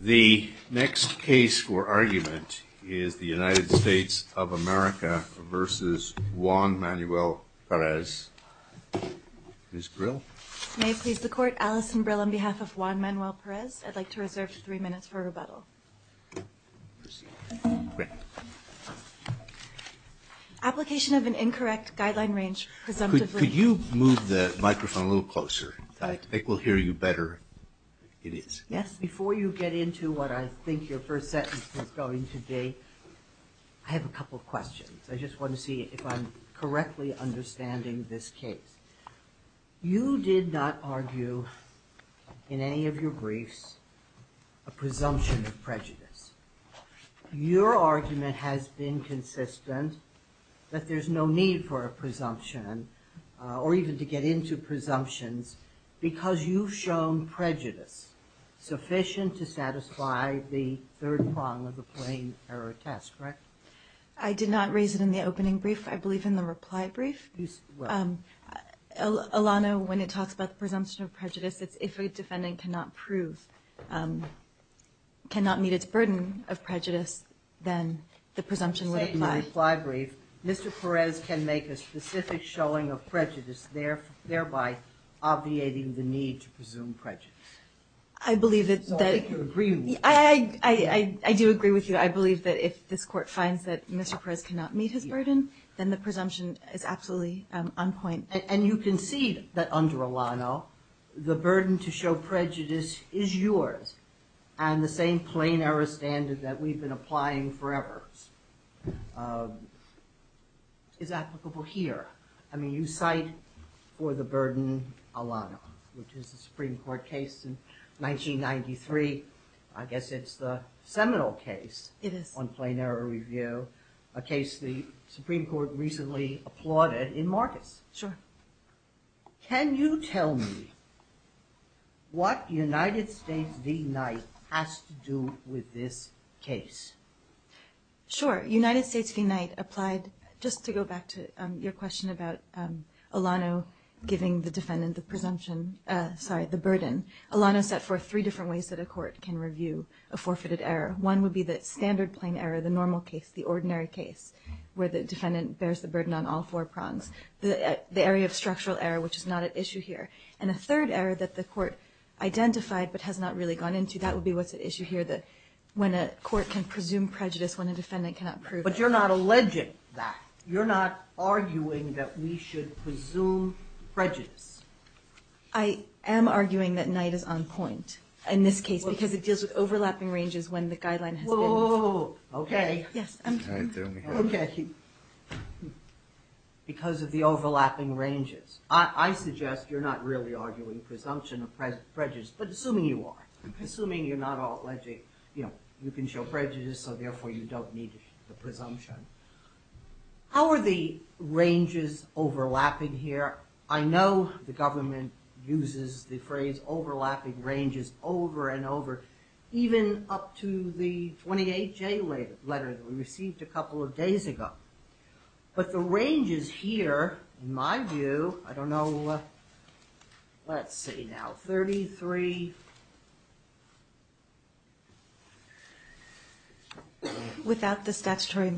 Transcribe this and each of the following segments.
The next case for argument is the United States of America v. Juan Manuel Perez. Ms. Brill? May it please the Court, Alison Brill on behalf of Juan Manuel Perez. I'd like to reserve three minutes for rebuttal. Application of an incorrect guideline range presumptively Could you move the microphone a little closer? I think we'll hear you better. It is. Yes, before you get into what I think your first sentence is going to be, I have a couple of questions. I just want to see if I'm correctly understanding this case. You did not argue in any of your briefs a presumption of prejudice. Your argument has been consistent that there's no need for a presumption or even to get into presumptions because you've shown prejudice sufficient to satisfy the third prong of the plain error test, correct? I did not raise it in the opening brief. I believe in the reply brief. Alana, when it talks about the presumption of prejudice, it's if a defendant cannot prove, cannot meet its burden of prejudice, then the presumption would apply. In the reply brief, Mr. Perez can make a specific showing of prejudice, thereby obviating the need to presume prejudice. I do agree with you. I believe that if this Court finds that Mr. Perez cannot meet his burden, then the presumption is absolutely on point. And you concede that, under Alana, the burden to show prejudice is yours and the same plain error standard that we've been applying forever is applicable here. I mean, you cite for the burden Alana, which is a Supreme Court case in 1993. I guess it's the seminal case on plain error review, a case the Supreme Court recently applauded in Marcus. Sure. Can you tell me what United States v. Knight has to do with this case? Sure. United States v. Knight applied, just to go back to your question about Alana giving the defendant the presumption, sorry, the burden. Alana set forth three different ways that a court can review a forfeited error. One would be the standard plain error, the normal case, the ordinary case, where the defendant bears the burden on all four prongs. The area of structural error, which is not at issue here. And a third error that the court identified but has not really gone into, that would be what's at issue here, that when a court can presume prejudice when a defendant cannot prove it. But you're not alleging that. You're not arguing that we should presume prejudice. I am arguing that Knight is on point in this case because it deals with overlapping ranges when the guideline has been met. Whoa, whoa, whoa. Okay. Yes. Okay. Because of the overlapping ranges. I suggest you're not really arguing presumption of prejudice, but assuming you are. Assuming you're not alleging, you know, you can show prejudice, so therefore you don't need the presumption. How are the ranges overlapping here? I know the government uses the phrase overlapping ranges over and over, even up to the 28J letter that we received a couple of days ago. But the ranges here, in my view, I don't know, let's see now, 33. Without the statutory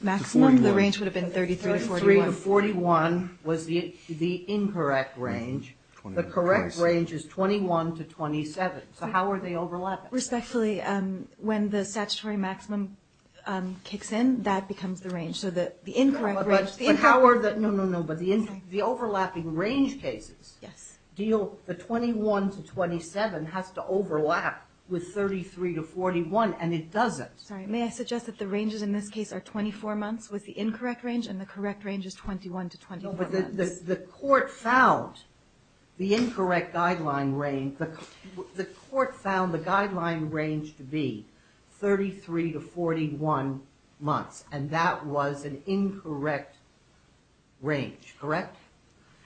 maximum, the range would have been 33 to 41. 33 to 41 was the incorrect range. The correct range is 21 to 27. So how are they overlapping? Respectfully, when the statutory maximum kicks in, that becomes the range. So the incorrect range. But how are the, no, no, no, but the overlapping range cases deal, the 21 to 27 has to overlap with 33 to 41, and it doesn't. Sorry, may I suggest that the ranges in this case are 24 months The court found the incorrect guideline range, the court found the guideline range to be 33 to 41 months, and that was an incorrect range, correct?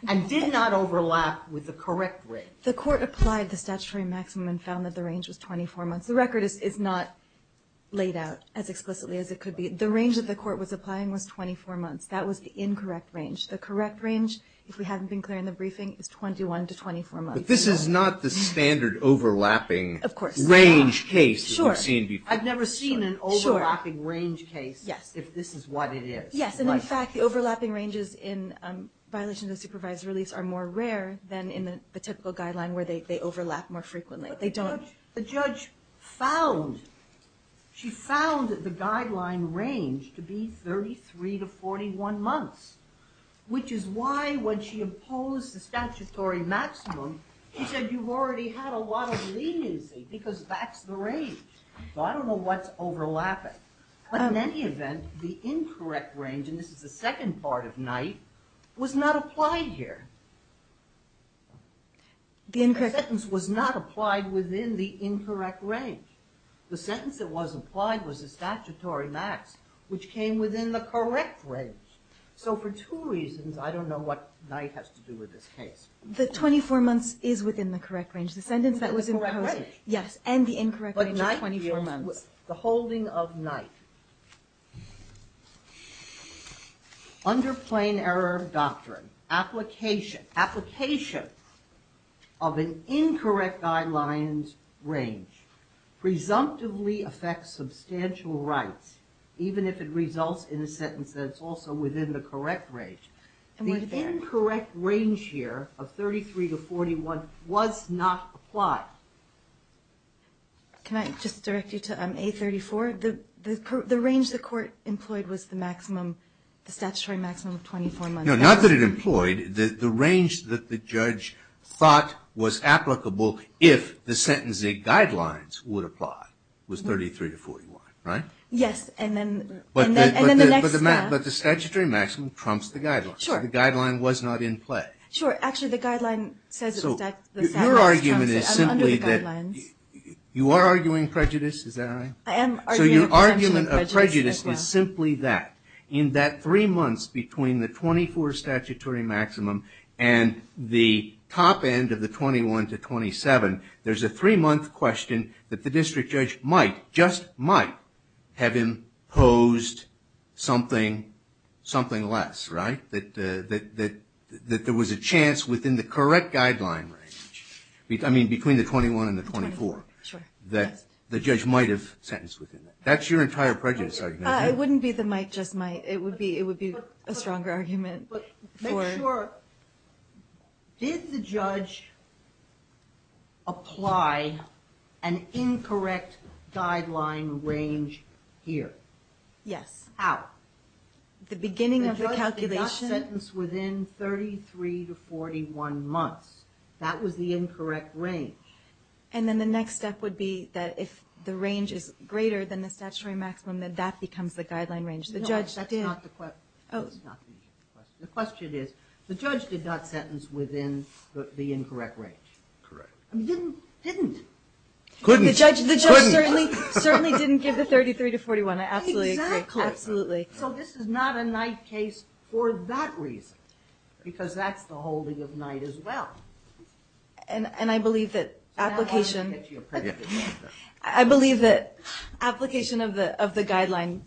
And did not overlap with the correct range. The court applied the statutory maximum and found that the range was 24 months. The record is not laid out as explicitly as it could be. The range that the court was applying was 24 months. That was the incorrect range. The correct range, if we haven't been clear in the briefing, is 21 to 24 months. But this is not the standard overlapping range case that we've seen before. Sure. I've never seen an overlapping range case if this is what it is. Yes, and in fact, the overlapping ranges in violations of supervised release are more rare than in the typical guideline where they overlap more frequently. The judge found, she found the guideline range to be 33 to 41 months, which is why when she imposed the statutory maximum, she said you've already had a lot of leniency because that's the range. So I don't know what's overlapping. But in any event, the incorrect range, and this is the second part of night, was not applied here. The incorrect range. The sentence was not applied within the incorrect range. The sentence that was applied was the statutory max, which came within the correct range. So for two reasons, I don't know what night has to do with this case. The 24 months is within the correct range. The sentence that was imposed. Correct range. Yes, and the incorrect range is 24 months. The holding of night. Under plain error of doctrine, application of an incorrect guideline range presumptively affects substantial rights, even if it results in a sentence that's also within the correct range. The incorrect range here of 33 to 41 was not applied. Can I just direct you to A34? The range the court employed was the maximum, the statutory maximum of 24 months. No, not that it employed. The range that the judge thought was applicable, if the sentencing guidelines would apply, was 33 to 41, right? Yes, and then the next staff. But the statutory maximum trumps the guidelines. Sure. So the guideline was not in play. Sure. Actually, the guideline says it was under the guidelines. So your argument is simply that you are arguing prejudice. Is that right? So your argument of prejudice is simply that. In that three months between the 24 statutory maximum and the top end of the 21 to 27, there's a three-month question that the district judge might, just might, have imposed something less, right? That there was a chance within the correct guideline range, I mean between the 21 and the 24, that the judge might have sentenced within that. That's your entire prejudice argument. It wouldn't be the might, just might. It would be a stronger argument. But make sure, did the judge apply an incorrect guideline range here? How? The beginning of the calculation. The judge did not sentence within 33 to 41 months. That was the incorrect range. And then the next step would be that if the range is greater than the statutory maximum, then that becomes the guideline range. No, that's not the question. The question is, the judge did not sentence within the incorrect range. Correct. Didn't. Couldn't. Couldn't. The judge certainly didn't give the 33 to 41. I absolutely agree. Exactly. Absolutely. So this is not a Knight case for that reason, because that's the holding of Knight as well. And I believe that application of the guideline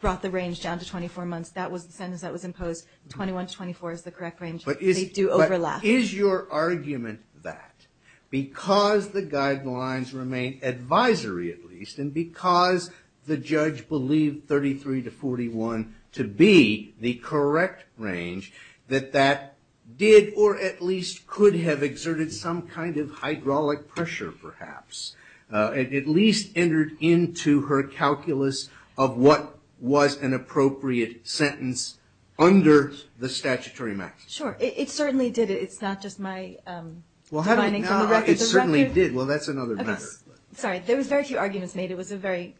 brought the range down to 24 months. That was the sentence that was imposed. 21 to 24 is the correct range. They do overlap. But is your argument that because the guidelines remain advisory, at least, and because the judge believed 33 to 41 to be the correct range, that that did or at least could have exerted some kind of hydraulic pressure, perhaps, at least entered into her calculus of what was an appropriate sentence under the statutory maximum? Sure. It certainly did. It's not just my finding from the record. It certainly did. Well, that's another matter. Okay. Sorry. There was very few arguments made. It was a very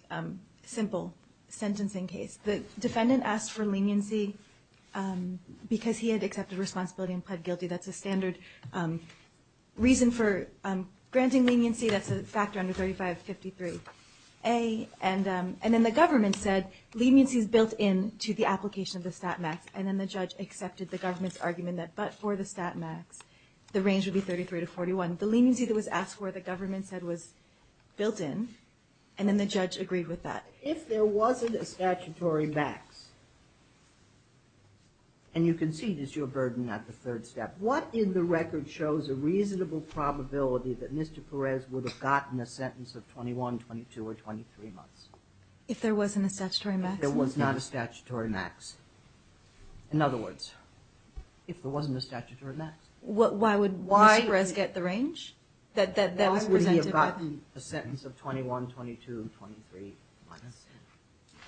simple sentencing case. The defendant asked for leniency because he had accepted responsibility and pled guilty. That's a standard reason for granting leniency. That's a factor under 3553A. And then the government said leniency is built into the application of the stat max, and then the judge accepted the government's argument that but for the stat max, the range would be 33 to 41. The leniency that was asked for, the government said, was built in, and then the judge agreed with that. If there wasn't a statutory max, and you can see this is your burden at the third step, what in the record shows a reasonable probability that Mr. Perez would have gotten a sentence of 21, 22, or 23 months? If there wasn't a statutory max? If there was not a statutory max. In other words, if there wasn't a statutory max. Why would Mr. Perez get the range? Why would he have gotten a sentence of 21, 22, and 23 months?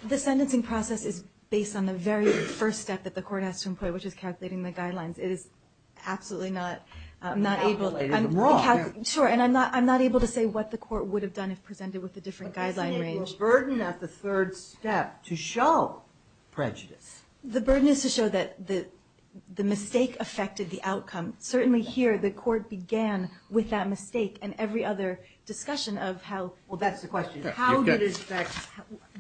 The sentencing process is based on the very first step that the court has to employ, which is calculating the guidelines. It is absolutely not able to. You calculated them wrong. Sure, and I'm not able to say what the court would have done if presented with a different guideline range. But isn't it your burden at the third step to show prejudice? The burden is to show that the mistake affected the outcome. Certainly here, the court began with that mistake and every other discussion of how. Well, that's the question. How did it affect?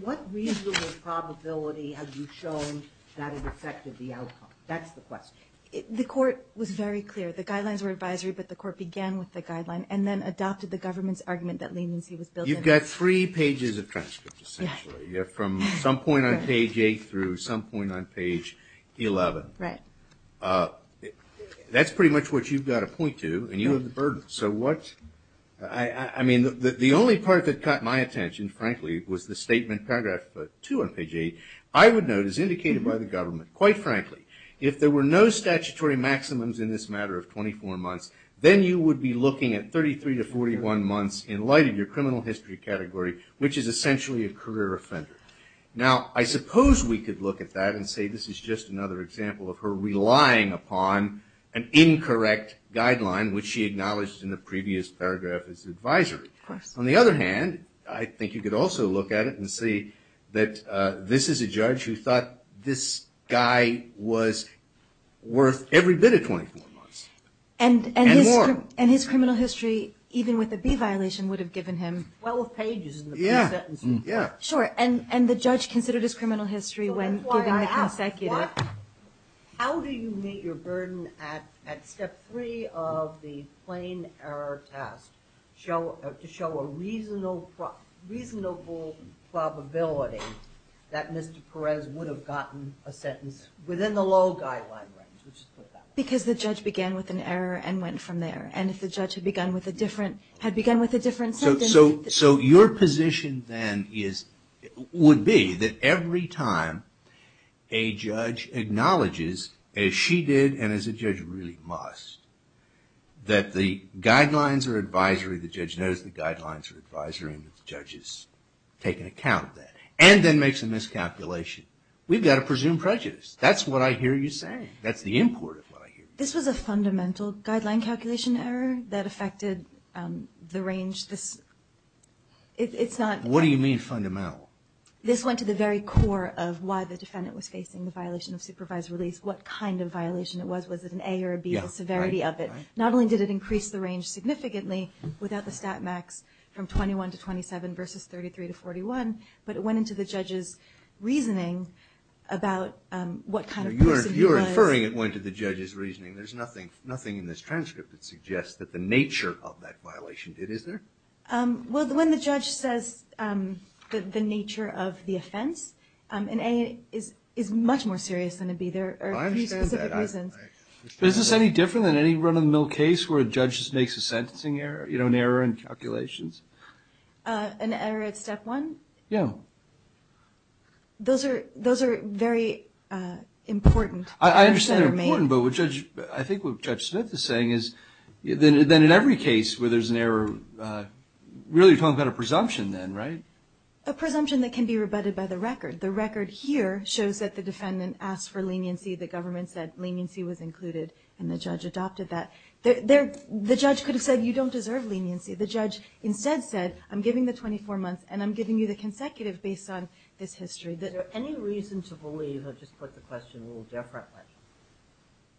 What reasonable probability have you shown that it affected the outcome? That's the question. The court was very clear. The guidelines were advisory, but the court began with the guideline and then adopted the government's argument that leniency was built in. You've got three pages of transcripts, essentially. Yes. From some point on page 8 through some point on page 11. Right. That's pretty much what you've got to point to, and you have the burden. I mean, the only part that caught my attention, frankly, was the statement, paragraph 2 on page 8. I would note, as indicated by the government, quite frankly, if there were no statutory maximums in this matter of 24 months, then you would be looking at 33 to 41 months in light of your criminal history category, which is essentially a career offender. Now, I suppose we could look at that and say this is just another example of her relying upon an incorrect guideline, which she acknowledged in the previous paragraph as advisory. Of course. On the other hand, I think you could also look at it and say that this is a judge who thought this guy was worth every bit of 24 months and more. And his criminal history, even with a B violation, would have given him 12 pages in the pre-sentence report. Sure. And the judge considered his criminal history when giving the consecutive. How do you meet your burden at step 3 of the plain error test to show a reasonable probability that Mr. Perez would have gotten a sentence within the law guideline range? Because the judge began with an error and went from there. And if the judge had begun with a different sentence. So your position then would be that every time a judge acknowledges, as she did and as a judge really must, that the guidelines are advisory. The judge knows the guidelines are advisory and the judge is taking account of that. And then makes a miscalculation. We've got to presume prejudice. That's what I hear you saying. That's the import of what I hear you saying. This was a fundamental guideline calculation error that affected the range. What do you mean fundamental? This went to the very core of why the defendant was facing the violation of supervised release. What kind of violation it was. Was it an A or a B? The severity of it. Not only did it increase the range significantly without the stat max from 21 to 27 versus 33 to 41. You're inferring it went to the judge's reasoning. There's nothing in this transcript that suggests that the nature of that violation did, is there? Well, when the judge says the nature of the offense, an A is much more serious than a B. There are specific reasons. Is this any different than any run-of-the-mill case where a judge makes a sentencing error, an error in calculations? An error at step one? Yeah. Those are very important. I understand they're important, but I think what Judge Smith is saying is that in every case where there's an error, really you're talking about a presumption then, right? A presumption that can be rebutted by the record. The record here shows that the defendant asked for leniency. The government said leniency was included, and the judge adopted that. The judge could have said you don't deserve leniency. The judge instead said I'm giving the 24 months and I'm giving you the consecutive based on this history. Is there any reason to believe, I'll just put the question a little differently,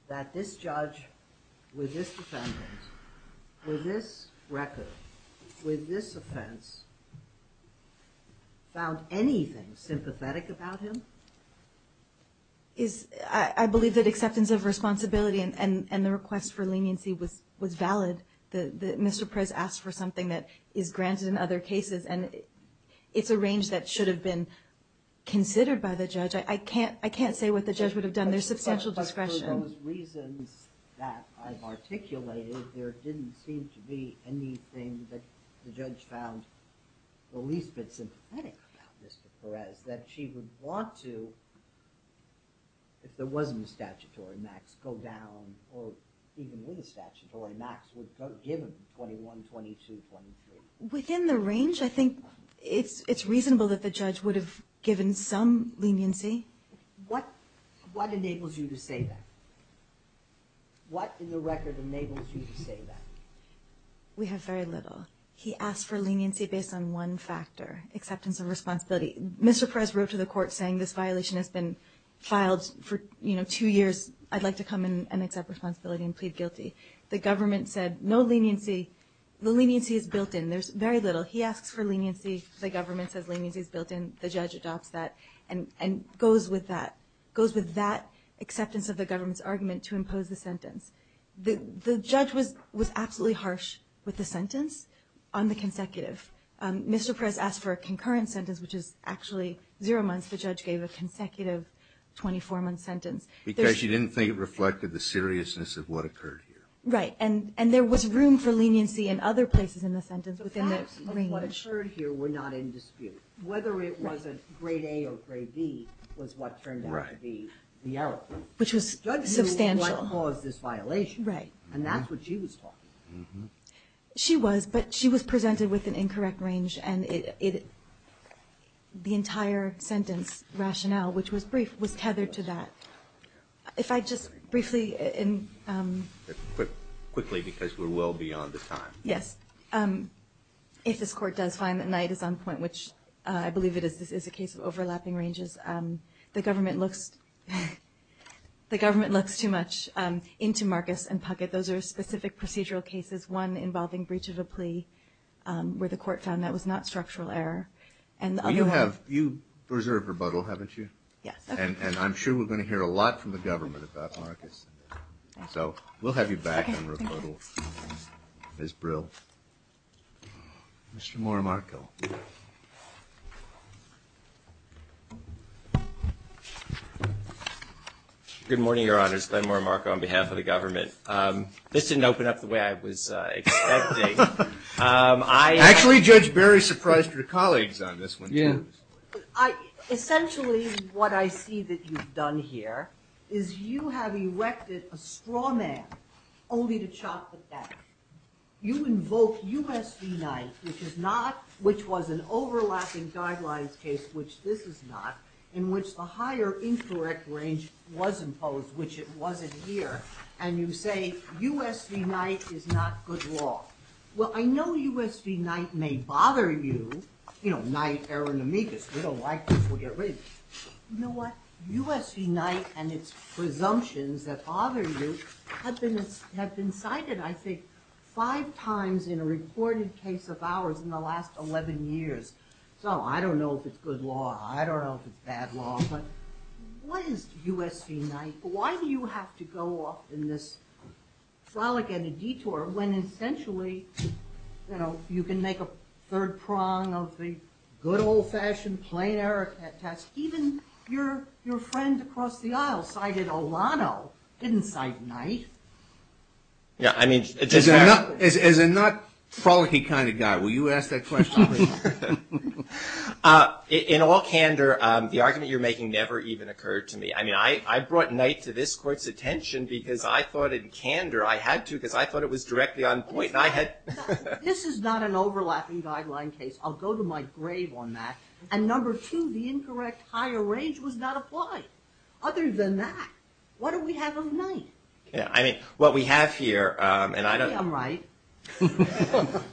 that this judge with this defendant, with this record, with this offense, found anything sympathetic about him? I believe that acceptance of responsibility and the request for leniency was valid. Mr. Perez asked for something that is granted in other cases, and it's a range that should have been considered by the judge. I can't say what the judge would have done. There's substantial discretion. But for those reasons that I've articulated, there didn't seem to be anything that the judge found the least bit sympathetic about Mr. Perez, that she would want to, if there wasn't a statutory max, go down, or even with a statutory max, would give him 21, 22, 23. Within the range, I think it's reasonable that the judge would have given some leniency. What enables you to say that? What in the record enables you to say that? We have very little. He asked for leniency based on one factor, acceptance of responsibility. Mr. Perez wrote to the court saying this violation has been filed for two years. I'd like to come and accept responsibility and plead guilty. The government said no leniency. The leniency is built in. There's very little. He asks for leniency. The government says leniency is built in. The judge adopts that and goes with that, goes with that acceptance of the government's argument to impose the sentence. The judge was absolutely harsh with the sentence on the consecutive. Mr. Perez asked for a concurrent sentence, which is actually zero months. The judge gave a consecutive 24-month sentence. Because she didn't think it reflected the seriousness of what occurred here. Right. And there was room for leniency in other places in the sentence within the range. The facts of what occurred here were not in dispute. Right. Whether it was a grade A or grade B was what turned out to be the outcome. Right. Which was substantial. She didn't want to cause this violation. Right. And that's what she was talking about. She was, but she was presented with an incorrect range. And the entire sentence rationale, which was brief, was tethered to that. If I just briefly in- Quickly, because we're well beyond the time. Yes. If this court does find that Knight is on point, which I believe it is, this is a case of overlapping ranges, the government looks too much into Marcus and Puckett. Those are specific procedural cases, one involving breach of a plea, where the court found that was not structural error. You have, you preserve rebuttal, haven't you? Yes. And I'm sure we're going to hear a lot from the government about Marcus. So we'll have you back on rebuttal, Ms. Brill. Mr. Morimarco. Good morning, Your Honors. Glenn Morimarco on behalf of the government. This didn't open up the way I was expecting. Actually, Judge Berry surprised her colleagues on this one, too. Yes. Essentially, what I see that you've done here is you have erected a straw man only to chop the back. You invoke U.S. v. Knight, which was an overlapping guidelines case, which this is not, in which the higher incorrect range was imposed, which it wasn't here, and you say U.S. v. Knight is not good law. Well, I know U.S. v. Knight may bother you. You know, Knight, error in amicus. We don't like this. We'll get rid of it. You know what? U.S. v. Knight and its presumptions that bother you have been cited, I think, five times in a recorded case of ours in the last 11 years. So I don't know if it's good law. I don't know if it's bad law. But what is U.S. v. Knight? Why do you have to go off in this frolic and a detour when essentially, you know, your friend across the aisle cited Olano, didn't cite Knight? As a not-frolicky kind of guy, will you ask that question? In all candor, the argument you're making never even occurred to me. I mean, I brought Knight to this Court's attention because I thought in candor I had to, because I thought it was directly on point. This is not an overlapping guideline case. I'll go to my grave on that. And number two, the incorrect higher range was not applied. Other than that, what do we have of Knight? I mean, what we have here, and I don't. Maybe I'm right.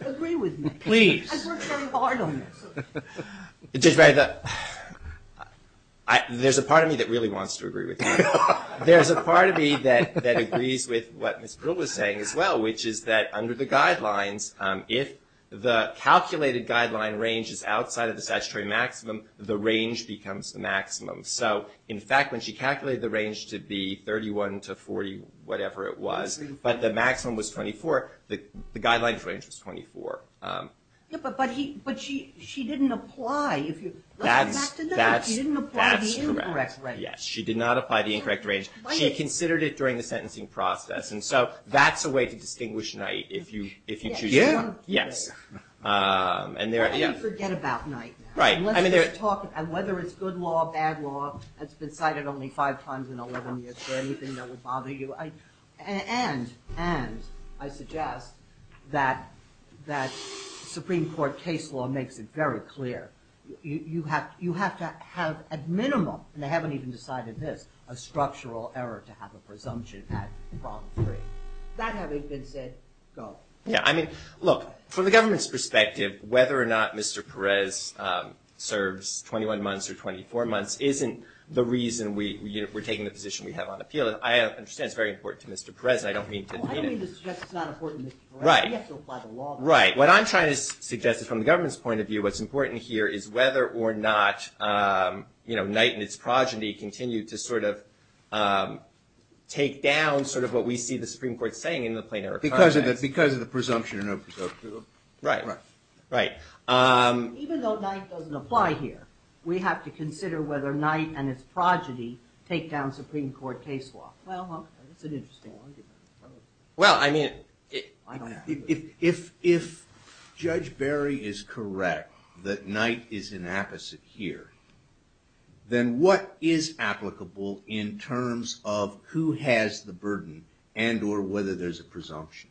Agree with me. Please. I've worked very hard on this. Judge Barry, there's a part of me that really wants to agree with you. There's a part of me that agrees with what Ms. Brill was saying as well, which is that under the guidelines, if the calculated guideline range is outside of the statutory maximum, the range becomes the maximum. So, in fact, when she calculated the range to be 31 to 40, whatever it was, but the maximum was 24, the guideline range was 24. But she didn't apply. That's correct. She did not apply the incorrect range. She considered it during the sentencing process. And so that's a way to distinguish Knight if you choose to. Yeah. Yes. And forget about Knight now. Right. And whether it's good law, bad law, it's been cited only five times in 11 years. Is there anything that would bother you? And I suggest that Supreme Court case law makes it very clear. You have to have at minimum, and they haven't even decided this, a structural error to have a presumption at problem three. That having been said, go. Yeah. I mean, look, from the government's perspective, whether or not Mr. Perez serves 21 months or 24 months isn't the reason we're taking the position we have on appeal. I understand it's very important to Mr. Perez. I don't mean to mean it. I don't mean to suggest it's not important to Mr. Perez. Right. You have to apply the law. Right. What I'm trying to suggest is from the government's point of view, what's important here is whether or not Knight and its progeny continue to sort of take down sort of what we see the Supreme Court saying in the plain error comments. Because of the presumption or no presumption. Right. Right. Even though Knight doesn't apply here, we have to consider whether Knight and its progeny take down Supreme Court case law. Well, that's an interesting argument. Well, I mean, if Judge Barry is correct that Knight is an apposite here, then what is applicable in terms of who has the burden and or whether there's a presumption?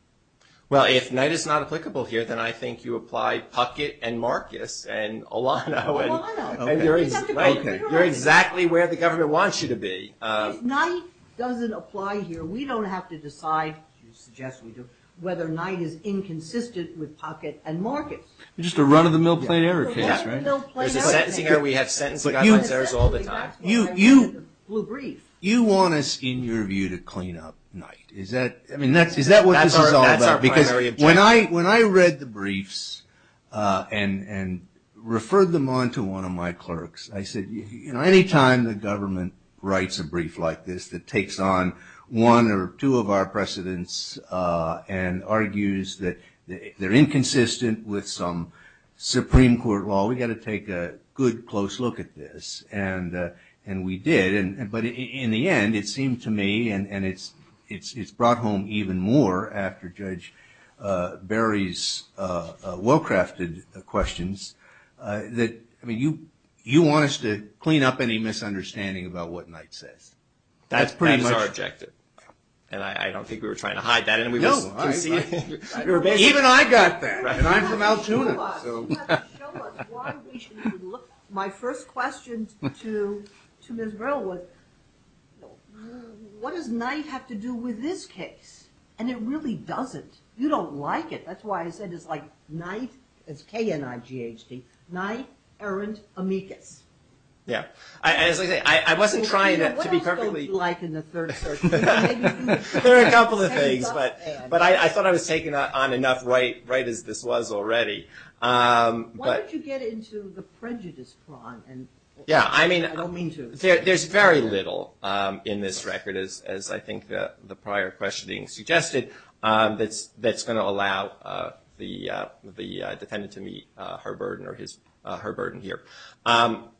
Well, if Knight is not applicable here, then I think you apply Puckett and Marcus and Olano. Olano. You're exactly where the government wants you to be. If Knight doesn't apply here, then we don't have to decide whether Knight is inconsistent with Puckett and Marcus. Just a run of the mill plain error case, right? There's a sentencing error. We have sentencing errors all the time. You want us in your view to clean up Knight. Is that what this is all about? Because when I read the briefs and referred them on to one of my clerks, I said, anytime the government writes a brief like this, that takes on one or two of our precedents and argues that they're inconsistent with some Supreme Court law, we got to take a good close look at this. And we did. But in the end, it seemed to me, and it's brought home even more after Judge Barry's well-crafted questions, that you want us to clean up any misunderstanding about what Knight says. That's pretty much our objective. And I don't think we were trying to hide that. No. Even I got that. And I'm from Altoona. My first question to Ms. Brill was, what does Knight have to do with this case? And it really doesn't. You don't like it. That's why I said it's like Knight, it's K-N-I-G-H-T, Knight, Arendt, Amicus. Yeah. I wasn't trying to be perfectly. What else don't you like in the Third Circuit? There are a couple of things. But I thought I was taking on enough right as this was already. Why don't you get into the prejudice prong? Yeah. I mean, there's very little in this record, as I think the prior questioning suggested, that's going to allow the defendant to meet her burden or her burden here.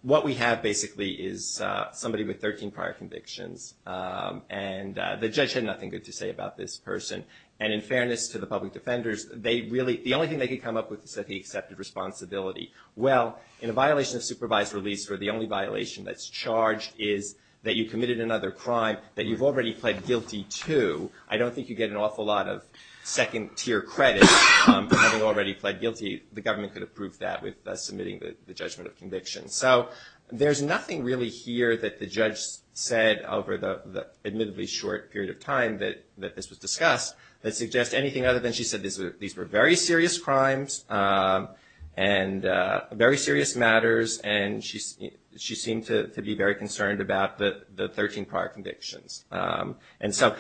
What we have, basically, is somebody with 13 prior convictions. And the judge had nothing good to say about this person. And in fairness to the public defenders, the only thing they could come up with is that he accepted responsibility. Well, in a violation of supervised release, where the only violation that's charged is that you committed another crime that you've already pled guilty to, I don't think you get an awful lot of second-tier credit for having already pled guilty. The government could approve that with submitting the judgment of conviction. So there's nothing really here that the judge said over the admittedly short period of time that this was discussed that suggests anything other than she said these were very serious crimes and very serious matters. And she seemed to be very concerned about the 13 prior convictions. And so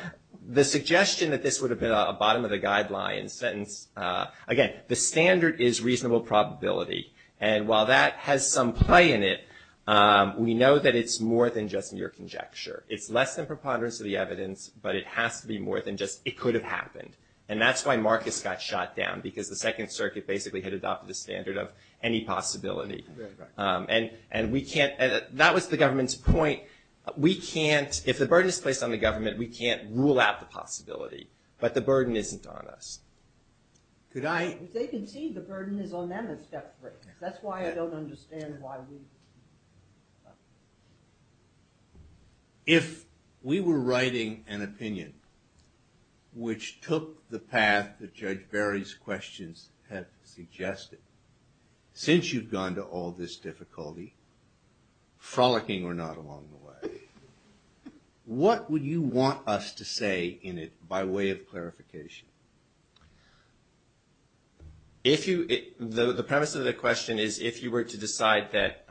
the suggestion that this would have been a bottom-of-the-guideline sentence, again, the standard is reasonable probability. And while that has some play in it, we know that it's more than just mere conjecture. It's less than preponderance of the evidence, but it has to be more than just it could have happened. And that's why Marcus got shot down, because the Second Circuit basically had adopted the standard of any possibility. And we can't – that was the government's point. We can't – if the burden is placed on the government, we can't rule out the possibility. But the burden isn't on us. Could I – As they concede, the burden is on them in step three. That's why I don't understand why we – If we were writing an opinion which took the path that Judge Barry's questions had suggested, since you've gone to all this difficulty, frolicking or not along the way, what would you want us to say in it by way of clarification? If you – the premise of the question is if you were to decide that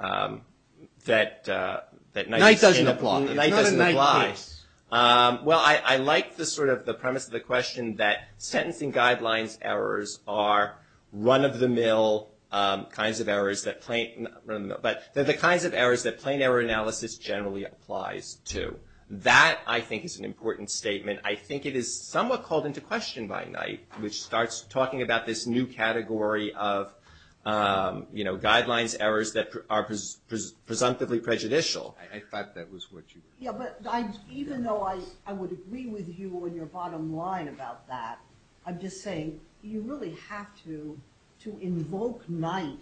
– Night doesn't apply. Night doesn't apply. It's not a night case. Well, I like the sort of – the premise of the question, that sentencing guidelines errors are run-of-the-mill kinds of errors that plain – not run-of-the-mill, but they're the kinds of errors that plain error analysis generally applies to. That, I think, is an important statement. I think it is somewhat called into question by Night, which starts talking about this new category of, you know, guidelines errors that are presumptively prejudicial. I thought that was what you – Yeah, but even though I would agree with you on your bottom line about that, I'm just saying you really have to – to invoke Night,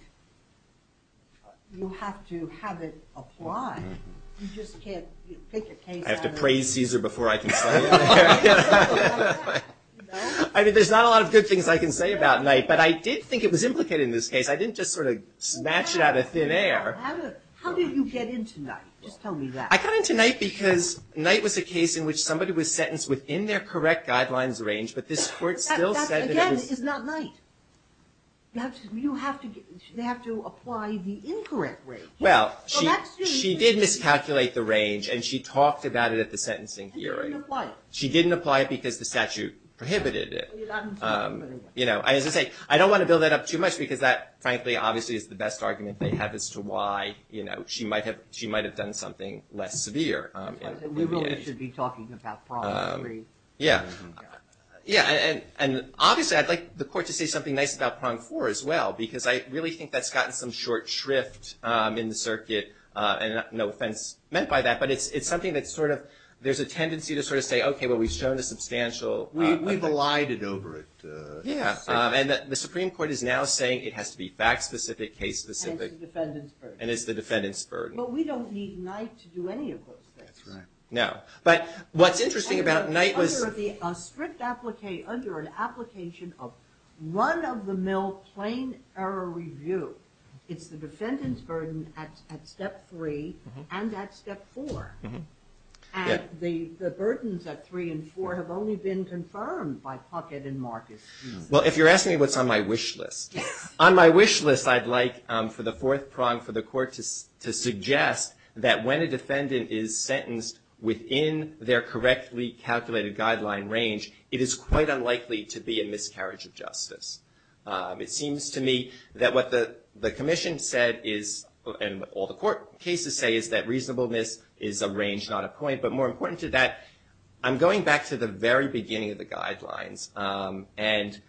you have to have it apply. You just can't pick a case out of – I have to praise Cesar before I can say it. I mean, there's not a lot of good things I can say about Night, but I did think it was implicated in this case. I didn't just sort of snatch it out of thin air. How did you get into Night? Just tell me that. I got into Night because Night was a case in which somebody was sentenced within their correct guidelines range, but this court still said that it was – That, again, is not Night. You have to – they have to apply the incorrect range. Well, she did miscalculate the range, and she talked about it at the sentencing hearing. And you didn't apply it. She didn't apply it because the statute prohibited it. Well, you got into it anyway. You know, as I say, I don't want to build that up too much because that, frankly, obviously is the best argument they have as to why, you know, she might have done something less severe. We really should be talking about prong three. Yeah. Yeah, and obviously I'd like the court to say something nice about prong four as well because I really think that's gotten some short shrift in the circuit, and no offense meant by that, but it's something that's sort of – there's a tendency to sort of say, okay, well, we've shown a substantial – We've allied it over it. Yeah, and the Supreme Court is now saying it has to be fact-specific, case-specific. And it's the defendant's first. And it's the defendant's burden. Well, we don't need Knight to do any of those things. That's right. No. But what's interesting about Knight was – Under a strict – under an application of run-of-the-mill plain error review, it's the defendant's burden at step three and at step four. And the burdens at three and four have only been confirmed by Puckett and Marcus. Well, if you're asking me what's on my wish list, on my wish list I'd like for the fourth prong for the court to suggest that when a defendant is sentenced within their correctly calculated guideline range, it is quite unlikely to be a miscarriage of justice. It seems to me that what the commission said is – and all the court cases say is that reasonableness is a range, not a point. But more important to that, I'm going back to the very beginning of the guidelines. And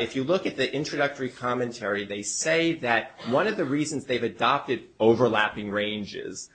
if you look at the introductory commentary, they say that one of the reasons they've adopted overlapping ranges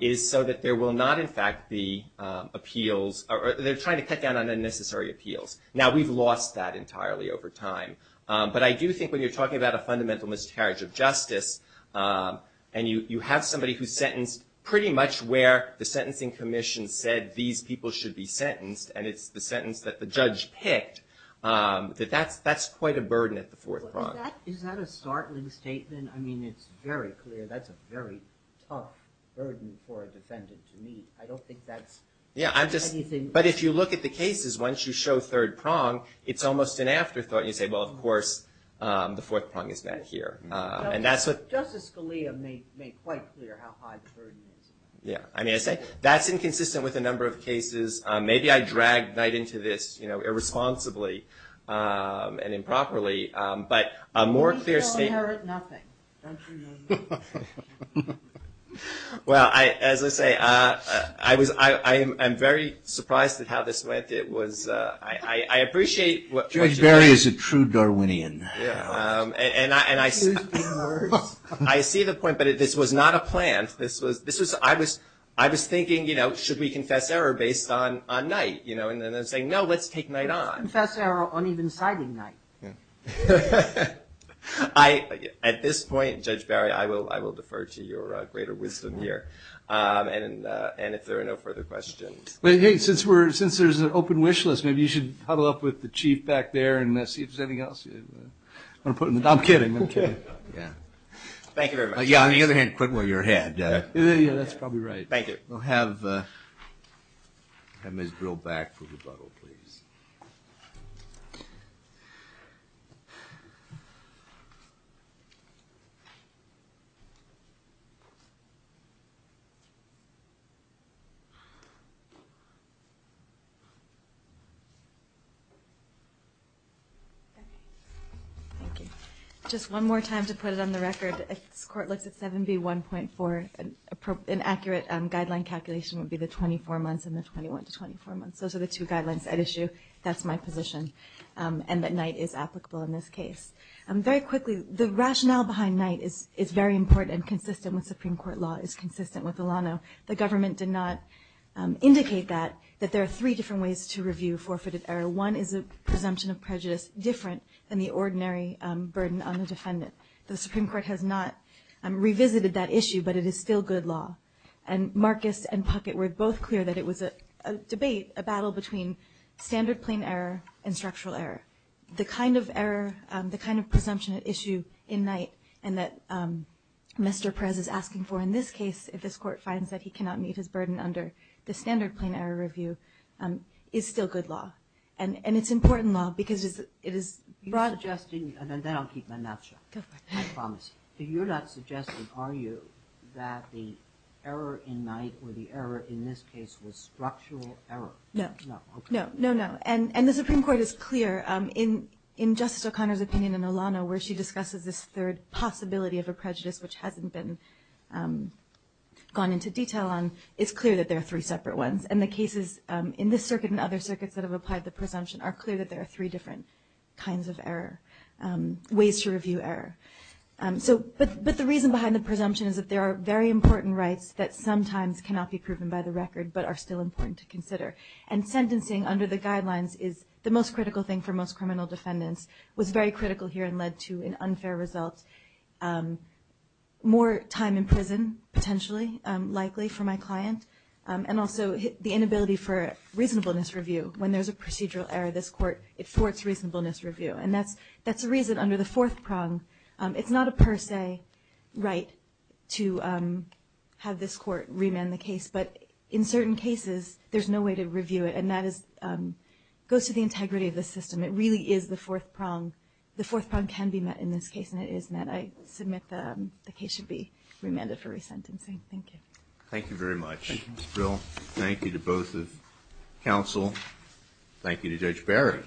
is so that there will not, in fact, be appeals – they're trying to cut down on unnecessary appeals. Now, we've lost that entirely over time. But I do think when you're talking about a fundamental miscarriage of justice and you have somebody who's sentenced pretty much where the sentencing commission said that these people should be sentenced and it's the sentence that the judge picked, that that's quite a burden at the fourth prong. Is that a startling statement? I mean, it's very clear that's a very tough burden for a defendant to meet. I don't think that's anything – Yeah, I'm just – but if you look at the cases, once you show third prong, it's almost an afterthought. You say, well, of course, the fourth prong is not here. Justice Scalia made quite clear how high the burden is. Yeah. I mean, I say that's inconsistent with a number of cases. Maybe I dragged Knight into this irresponsibly and improperly. But a more clear statement – You still inherit nothing. Don't you know that? Well, as I say, I was – I am very surprised at how this went. It was – I appreciate – Judge Barry is a true Darwinian. Yeah. And I see the point. But this was not a plant. This was – I was thinking, you know, should we confess error based on Knight? You know, and then say, no, let's take Knight on. Let's confess error on even-sided Knight. At this point, Judge Barry, I will defer to your greater wisdom here. And if there are no further questions. Since there's an open wish list, maybe you should huddle up with the Chief back there and see if there's anything else. I'm kidding. I'm kidding. Yeah. Thank you very much. Yeah, on the other hand, quit while you're ahead. Yeah, that's probably right. Thank you. We'll have Ms. Brill back for rebuttal, please. Just one more time to put it on the record. This Court looks at 7B1.4. An accurate guideline calculation would be the 24 months and the 21 to 24 months. Those are the two guidelines at issue. That's my position, and that Knight is applicable in this case. Very quickly, the rationale behind Knight is very important and consistent with Supreme Court law, is consistent with Alano. The government did not indicate that, that there are three different ways to review forfeited error. One is a presumption of prejudice different than the ordinary burden on the defendant. The Supreme Court has not revisited that issue, but it is still good law. And Marcus and Puckett were both clear that it was a debate, a battle between standard plain error and structural error. The kind of error, the kind of presumption at issue in Knight, and that Mr. Perez is asking for in this case, if this Court finds that he cannot meet his burden under the standard plain error review, is still good law. And it's important law because it is broad. I'm not suggesting, and then I'll keep my mouth shut. Go for it. I promise. You're not suggesting, are you, that the error in Knight or the error in this case was structural error? No. No, okay. No, no. And the Supreme Court is clear in Justice O'Connor's opinion in Alano where she discusses this third possibility of a prejudice which hasn't been gone into detail on, it's clear that there are three separate ones. And the cases in this circuit and other circuits that have applied the presumption are clear that there are three different kinds of error, ways to review error. But the reason behind the presumption is that there are very important rights that sometimes cannot be proven by the record but are still important to consider. And sentencing under the guidelines is the most critical thing for most criminal defendants, was very critical here and led to an unfair result. More time in prison, potentially, likely for my client, and also the inability for reasonableness review. When there's a procedural error, this court, it thwarts reasonableness review. And that's the reason under the fourth prong. It's not a per se right to have this court remand the case, but in certain cases there's no way to review it. And that goes to the integrity of the system. It really is the fourth prong. The fourth prong can be met in this case, and it is met. I submit the case should be remanded for resentencing. Thank you. Thank you very much. Thank you, Mr. Brill. Thank you to both the counsel. Thank you to Judge Barry.